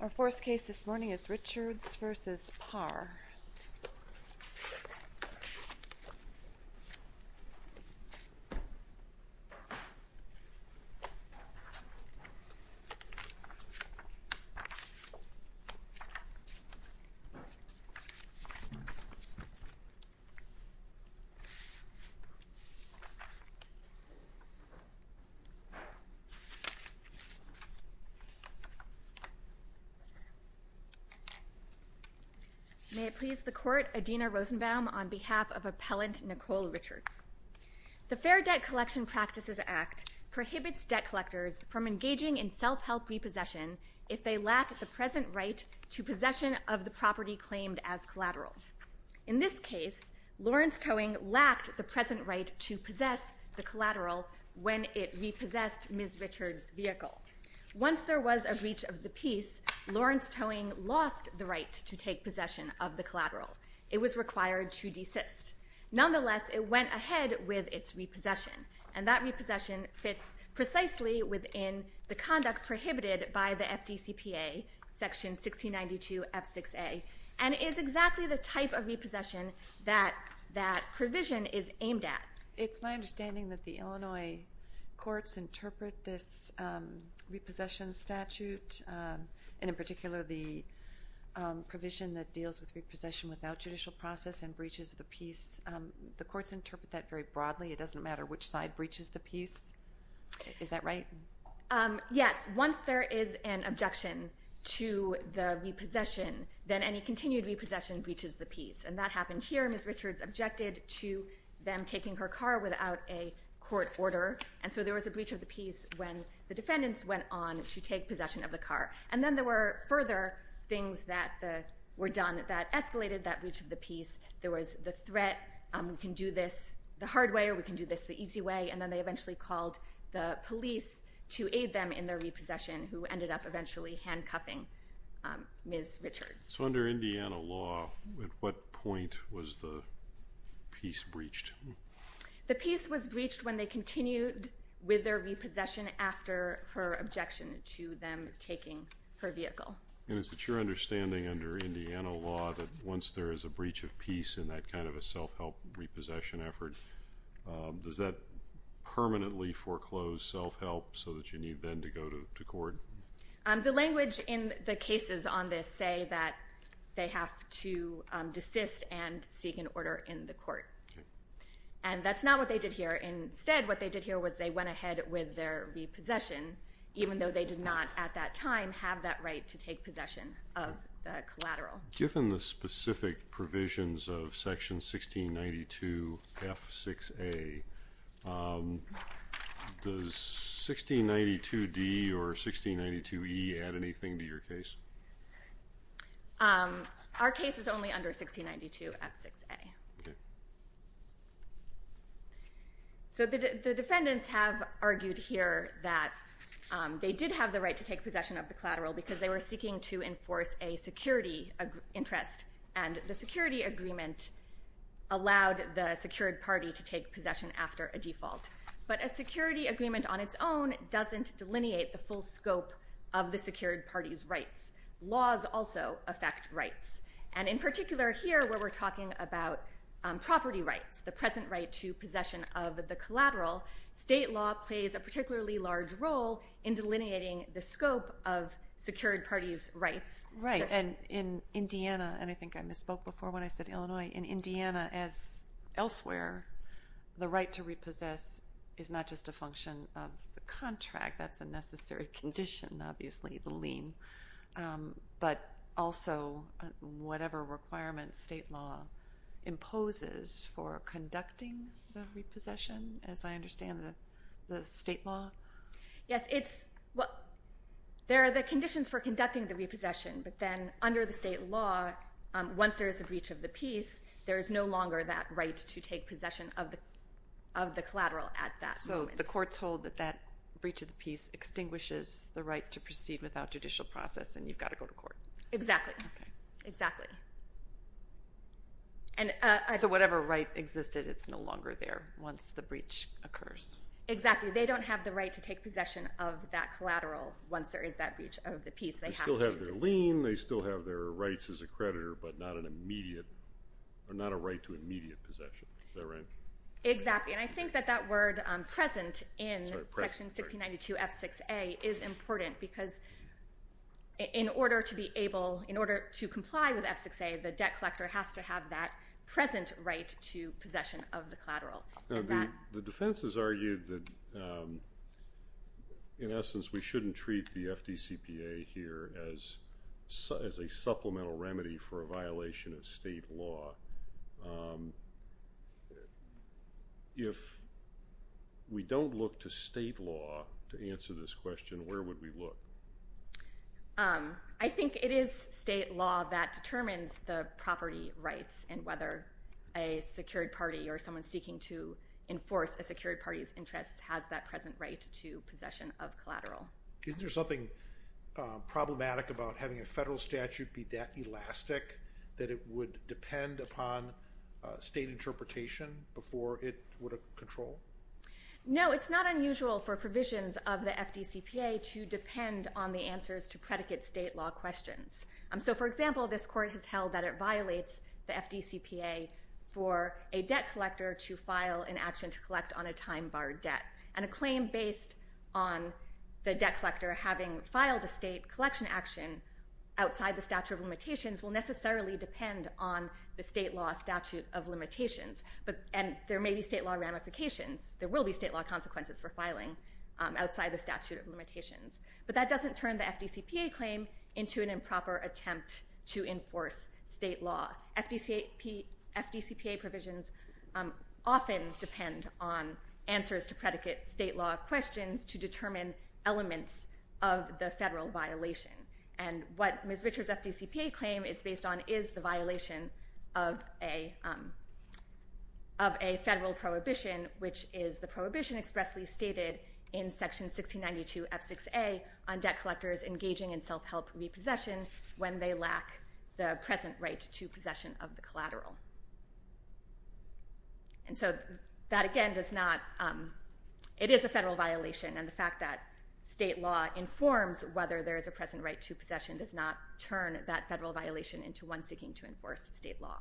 Our fourth case this morning is Richards v. Par. May it please the Court, Adina Rosenbaum on behalf of Appellant Nicole Richards. The Fair Debt Collection Practices Act prohibits debt collectors from engaging in self-help repossession if they lack the present right to possession of the property claimed as collateral. In this case, Lawrence Towing lacked the present right to possess the collateral when it repossessed Ms. Richards' vehicle. Once there was a breach of the peace, Lawrence Towing lost the right to take possession of the collateral. It was required to desist. Nonetheless, it went ahead with its repossession, and that repossession fits precisely within the conduct prohibited by the FDCPA, section 1692 F6A, and is exactly the type of repossession that that provision is aimed at. It's my understanding that the Illinois courts interpret this repossession statute, and in particular the provision that deals with repossession without judicial process and breaches of the peace, the courts interpret that very broadly, it doesn't matter which side breaches the peace. Is that right? Yes. Once there is an objection to the repossession, then any continued repossession breaches the peace. And that happened here. Ms. Richards objected to them taking her car without a court order. And so there was a breach of the peace when the defendants went on to take possession of the car. And then there were further things that were done that escalated that breach of the peace. There was the threat, we can do this the hard way, or we can do this the easy way. And then they eventually called the police to aid them in their repossession, who ended up eventually handcuffing Ms. Richards. So under Indiana law, at what point was the peace breached? The peace was breached when they continued with their repossession after her objection to them taking her vehicle. And is it your understanding under Indiana law that once there is a breach of peace in that kind of a self-help repossession effort, does that permanently foreclose self-help so that you need then to go to court? The language in the cases on this say that they have to desist and seek an order in the court. And that's not what they did here. Instead, what they did here was they went ahead with their repossession, even though they did not at that time have that right to take possession of the collateral. Given the specific provisions of section 1692 F6A, does 1692 D or 1692 E add anything to your case? Our case is only under 1692 F6A. So the defendants have argued here that they did have the right to take possession of the collateral of interest, and the security agreement allowed the secured party to take possession after a default. But a security agreement on its own doesn't delineate the full scope of the secured party's rights. Laws also affect rights. And in particular here, where we're talking about property rights, the present right to possession of the collateral, state law plays a particularly large role in delineating the scope of secured party's rights. Right. And in Indiana, and I think I misspoke before when I said Illinois, in Indiana as elsewhere, the right to repossess is not just a function of the contract, that's a necessary condition obviously, the lien, but also whatever requirements state law imposes for conducting the repossession, as I understand the state law? Yes. And it's, there are the conditions for conducting the repossession, but then under the state law, once there is a breach of the peace, there is no longer that right to take possession of the collateral at that moment. So the court told that that breach of the peace extinguishes the right to proceed without judicial process, and you've got to go to court. Exactly. Okay. Exactly. So whatever right existed, it's no longer there once the breach occurs. Exactly. So they don't have the right to take possession of that collateral once there is that breach of the peace. They still have their lien, they still have their rights as a creditor, but not an immediate, not a right to immediate possession, is that right? Exactly. And I think that that word present in section 1692 F6A is important because in order to be able, in order to comply with F6A, the debt collector has to have that present right to possession of the collateral. The defense has argued that, in essence, we shouldn't treat the FDCPA here as a supplemental remedy for a violation of state law. If we don't look to state law to answer this question, where would we look? I think it is state law that determines the property rights and whether a secured party or someone seeking to enforce a secured party's interests has that present right to possession of collateral. Isn't there something problematic about having a federal statute be that elastic that it would depend upon state interpretation before it would control? No, it's not unusual for provisions of the FDCPA to depend on the answers to predicate state law questions. For example, this court has held that it violates the FDCPA for a debt collector to file an action to collect on a time-barred debt. A claim based on the debt collector having filed a state collection action outside the statute of limitations will necessarily depend on the state law statute of limitations. There may be state law ramifications, there will be state law consequences for filing outside the statute of limitations. But that doesn't turn the FDCPA claim into an improper attempt to enforce state law. FDCPA provisions often depend on answers to predicate state law questions to determine elements of the federal violation. And what Ms. Richards' FDCPA claim is based on is the violation of a federal prohibition, which is the prohibition expressly stated in section 1692 F6A on debt collectors engaging in self-help repossession when they lack the present right to possession of the collateral. And so that again does not, it is a federal violation and the fact that state law informs whether there is a present right to possession does not turn that federal violation into one seeking to enforce state law.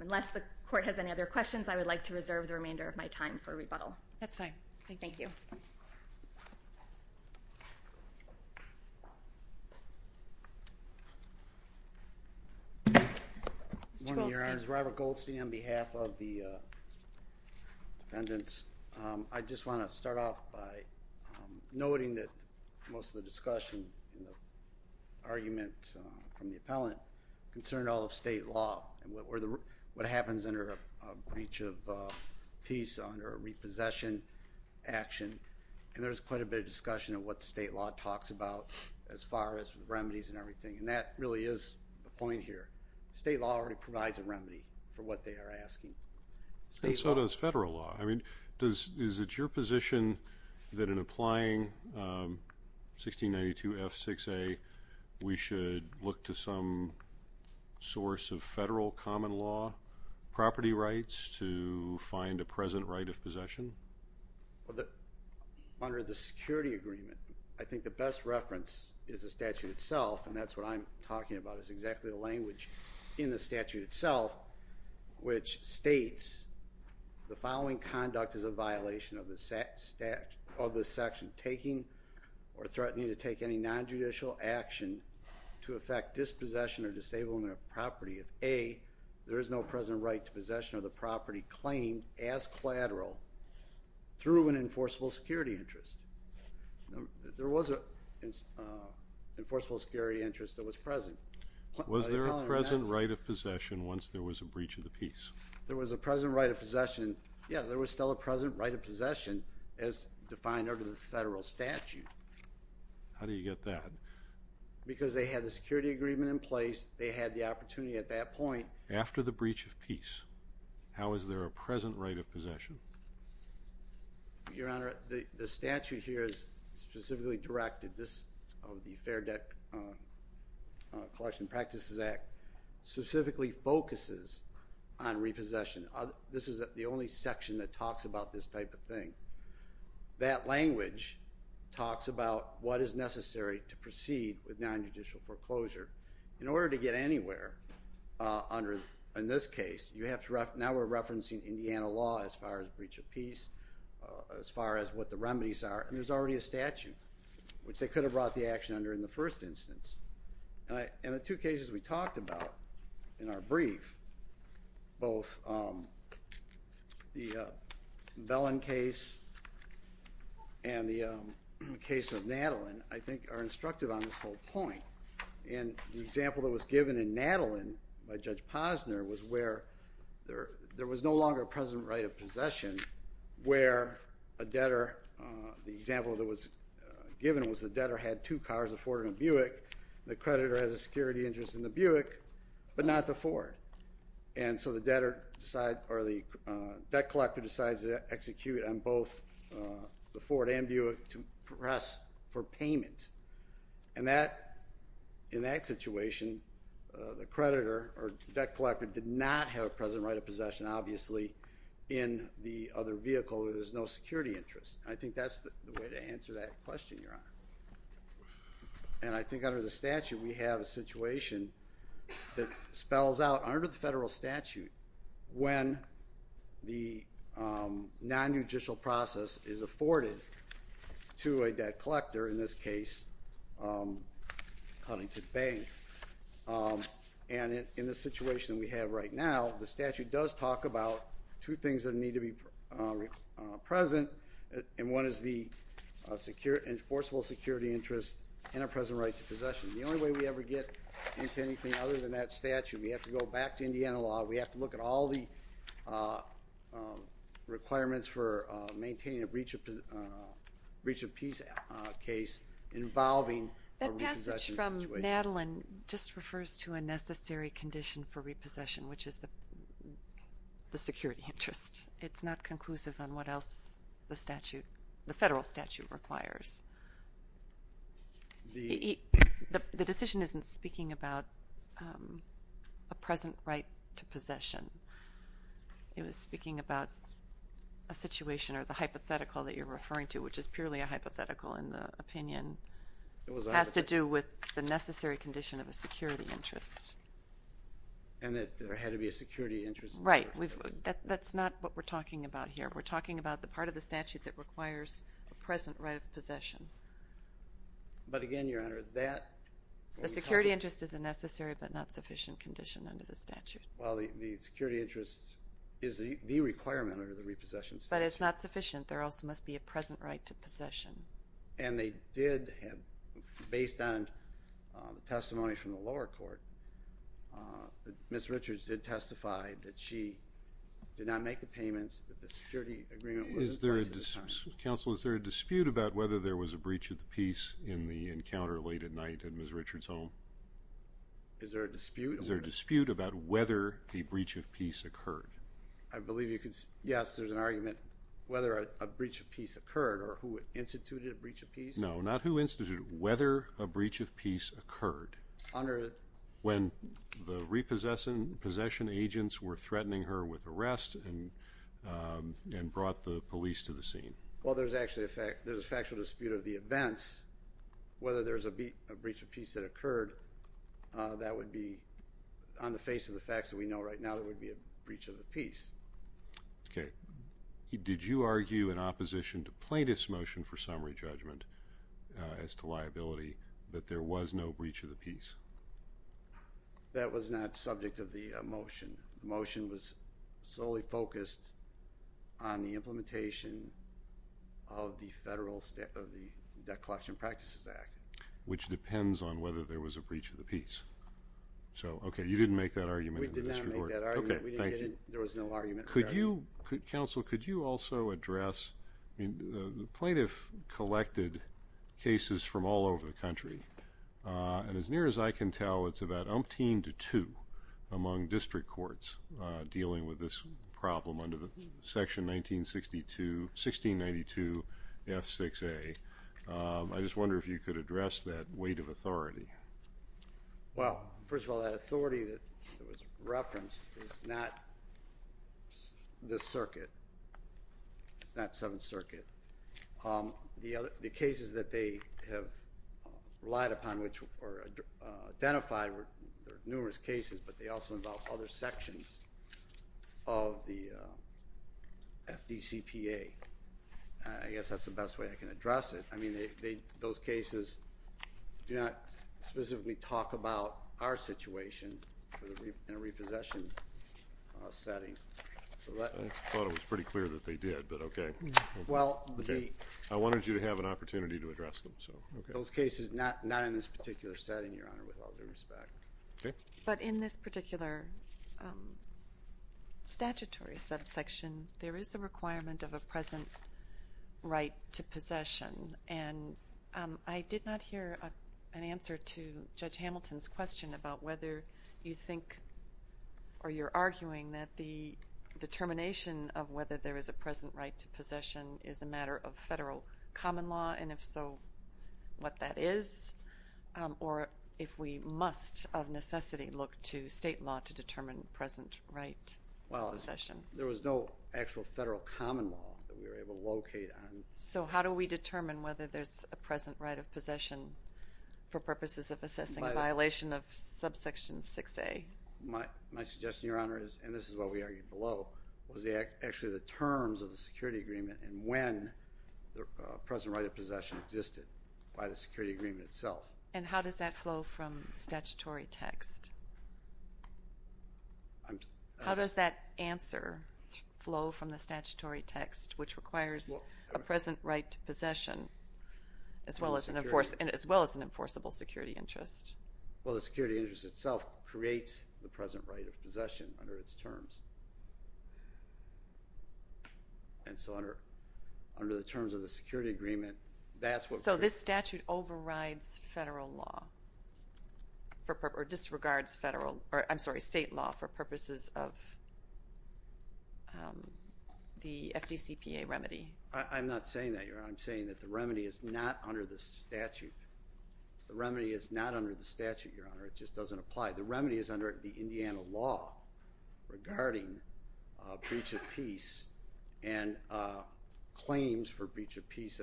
Unless the court has any other questions, I would like to reserve the remainder of my time for rebuttal. That's fine. Thank you. Mr. Goldstein. Good morning, Your Honors. Robert Goldstein on behalf of the defendants. I just want to start off by noting that most of the discussion, the argument from the appellant concerned all of state law and what happens under a breach of peace under a repossession action and there's quite a bit of discussion of what state law talks about as far as remedies and everything. And that really is the point here. State law already provides a remedy for what they are asking. State law. And so does federal law. I mean, is it your position that in applying 1692 F6A, we should look to some source of federal common law property rights to find a present right of possession? Under the security agreement, I think the best reference is the statute itself and that's what I'm talking about is exactly the language in the statute itself which states the following conduct is a violation of the statute of the section taking or threatening to take any non-judicial action to affect dispossession or disabling a property of A, there is no present right to possession of the property claimed as collateral through an enforceable security interest. There was an enforceable security interest that was present. Was there a present right of possession once there was a breach of the peace? There was a present right of possession. Yeah, there was still a present right of possession as defined under the federal statute. How do you get that? Because they had the security agreement in place, they had the opportunity at that point. After the breach of peace, how is there a present right of possession? Your Honor, the statute here is specifically directed, this of the Fair Debt Collection Practices Act, specifically focuses on repossession. This is the only section that talks about this type of thing. That language talks about what is necessary to proceed with non-judicial foreclosure. In order to get anywhere in this case, now we're referencing Indiana law as far as breach of peace, as far as what the remedies are, and there's already a statute which they could have brought the action under in the first instance. And the two cases we talked about in our brief, both the Bellin case and the case of Nadelin, I think are instructive on this whole point. And the example that was given in Nadelin by Judge Posner was where there was no longer a present right of possession, where a debtor, the example that was given was the debtor had two cars, a Ford and a Buick. The creditor has a security interest in the Buick, but not the Ford. And so the debtor decides, or the debt collector decides to execute on both the Ford and Buick to press for payment. And that, in that situation, the creditor or debt collector did not have a present right of possession, obviously, in the other vehicle where there's no security interest. I think that's the way to answer that question, Your Honor. And I think under the statute, we have a situation that spells out under the federal statute when the nonjudicial process is afforded to a debt collector, in this case, Huntington Bank. And in the situation we have right now, the statute does talk about two things that need to be present, and one is the enforceable security interest in a present right to possession. The only way we ever get into anything other than that statute, we have to go back to Indiana law. We have to look at all the requirements for maintaining a breach of peace case involving a repossession situation. That passage from Nadelin just refers to a necessary condition for repossession, which is the security interest. It's not conclusive on what else the statute, the federal statute requires. The decision isn't speaking about a present right to possession. It was speaking about a situation or the hypothetical that you're referring to, which is purely a hypothetical in the opinion, has to do with the necessary condition of a security interest. And that there had to be a security interest? Right. That's not what we're talking about here. We're talking about the part of the statute that requires a present right of possession. But again, Your Honor, that... The security interest is a necessary but not sufficient condition under the statute. Well, the security interest is the requirement under the repossession statute. There also must be a present right to possession. And they did have, based on the testimony from the lower court, Ms. Richards did testify that she did not make the payments, that the security agreement was in place at the time. Counsel, is there a dispute about whether there was a breach of peace in the encounter late at night at Ms. Richards' home? Is there a dispute? Is there a dispute about whether a breach of peace occurred? I believe you could... Yes, there's an argument whether a breach of peace occurred or who instituted a breach of peace. No, not who instituted it. Whether a breach of peace occurred when the repossession agents were threatening her with arrest and brought the police to the scene. Well, there's actually a factual dispute of the events, whether there's a breach of peace that occurred. That would be, on the face of the facts that we know right now, that would be a breach of the peace. Okay. Did you argue in opposition to plaintiff's motion for summary judgment as to liability that there was no breach of the peace? That was not subject of the motion. The motion was solely focused on the implementation of the Federal Debt Collection Practices Act. Which depends on whether there was a breach of the peace. So okay, you didn't make that argument in the district court. We did not make that argument. Okay, thank you. There was no argument. Could you, counsel, could you also address, I mean, the plaintiff collected cases from all over the country, and as near as I can tell, it's about umpteen to two among district courts dealing with this problem under the section 1962, 1692 F6A. I just wonder if you could address that weight of authority. Well, first of all, that authority that was referenced is not this circuit. It's not Seventh Circuit. The cases that they have relied upon, which were identified, there are numerous cases, but they also involve other sections of the FDCPA. I guess that's the best way I can address it. I mean, those cases do not specifically talk about our situation in a repossession setting. I thought it was pretty clear that they did, but okay. I wanted you to have an opportunity to address them. Those cases, not in this particular setting, Your Honor, with all due respect. Okay. But in this particular statutory subsection, there is a requirement of a present right to possession, and I did not hear an answer to Judge Hamilton's question about whether you think or you're arguing that the determination of whether there is a present right to possession is a matter of federal common law, and if so, what that is, or if we must, of necessity, look to state law to determine present right to possession. There was no actual federal common law that we were able to locate on. So how do we determine whether there's a present right of possession for purposes of assessing a violation of subsection 6A? My suggestion, Your Honor, and this is what we argued below, was actually the terms of the security agreement and when the present right of possession existed by the security agreement itself. And how does that flow from statutory text? How does that answer flow from the statutory text, which requires a present right to possession as well as an enforceable security interest? Well, the security interest itself creates the present right of possession under its terms. And so under the terms of the security agreement, that's what we're... So this statute overrides federal law or disregards state law for purposes of the FDCPA remedy. I'm not saying that, Your Honor. I'm saying that the remedy is not under the statute. The remedy is not under the statute, Your Honor. It just doesn't apply. The remedy is under the Indiana law regarding breach of peace and claims for breach of peace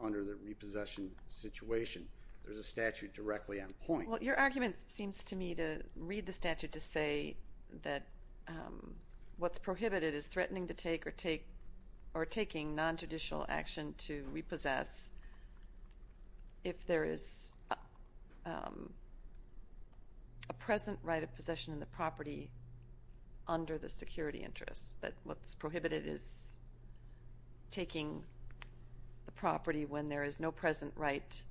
under the repossession situation. There's a statute directly on point. Well, your argument seems to me to read the statute to say that what's prohibited is threatening to take or taking nonjudicial action to repossess if there is a present right of possession in the property under the security interest. That what's prohibited is taking the property when there is no present right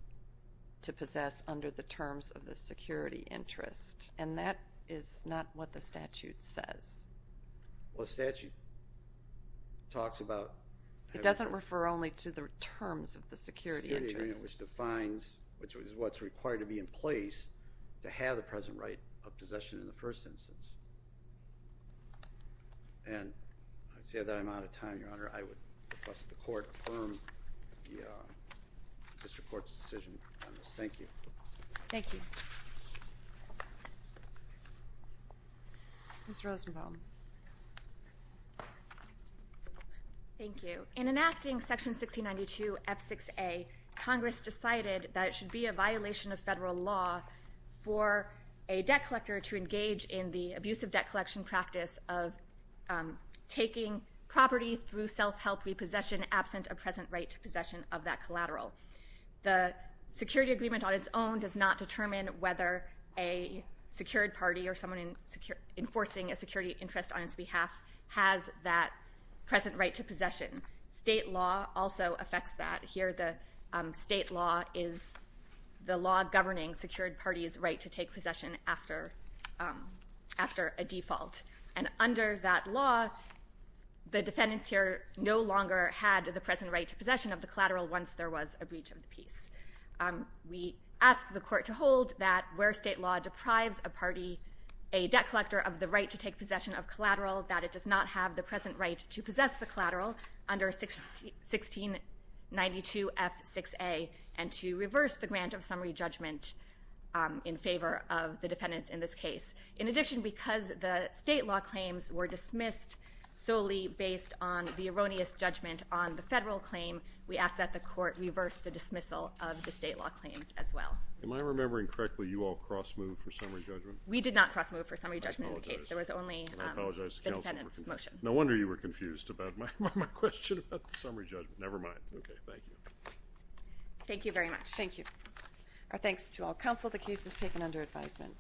to possess under the terms of the security interest. And that is not what the statute says. Well, the statute talks about... It doesn't refer only to the terms of the security interest. The security agreement, which defines, which is what's required to be in place to have the present right of possession in the first instance. And I'd say that I'm out of time, Your Honor. I would request that the Court confirm the District Court's decision on this. Thank you. Thank you. Ms. Rosenbaum. Thank you. In enacting Section 1692 F6A, Congress decided that it should be a violation of federal law for a debt collector to engage in the abusive debt collection practice of taking property through self-help repossession absent a present right to possession of that collateral. The security agreement on its own does not determine whether a secured party or someone enforcing a security interest on its behalf has that present right to possession. State law also affects that. Here, the state law is the law governing secured parties' right to take possession after a default. And under that law, the defendants here no longer had the present right to possession of the collateral once there was a breach of the peace. We ask the Court to hold that where state law deprives a party, a debt collector of the right to take possession of collateral, that it does not have the present right to possess the collateral under 1692 F6A and to reverse the grant of summary judgment in favor of the defendants in this case. In addition, because the state law claims were dismissed solely based on the erroneous judgment on the federal claim, we ask that the Court reverse the dismissal of the state law claims as well. Am I remembering correctly you all cross-moved for summary judgment? We did not cross-move for summary judgment in the case. There was only the defendant's motion. I apologize to counsel. No wonder you were confused about my question about the summary judgment. Never mind. Okay, thank you. Thank you very much. Thank you. Our thanks to all counsel. The case is taken under advisement.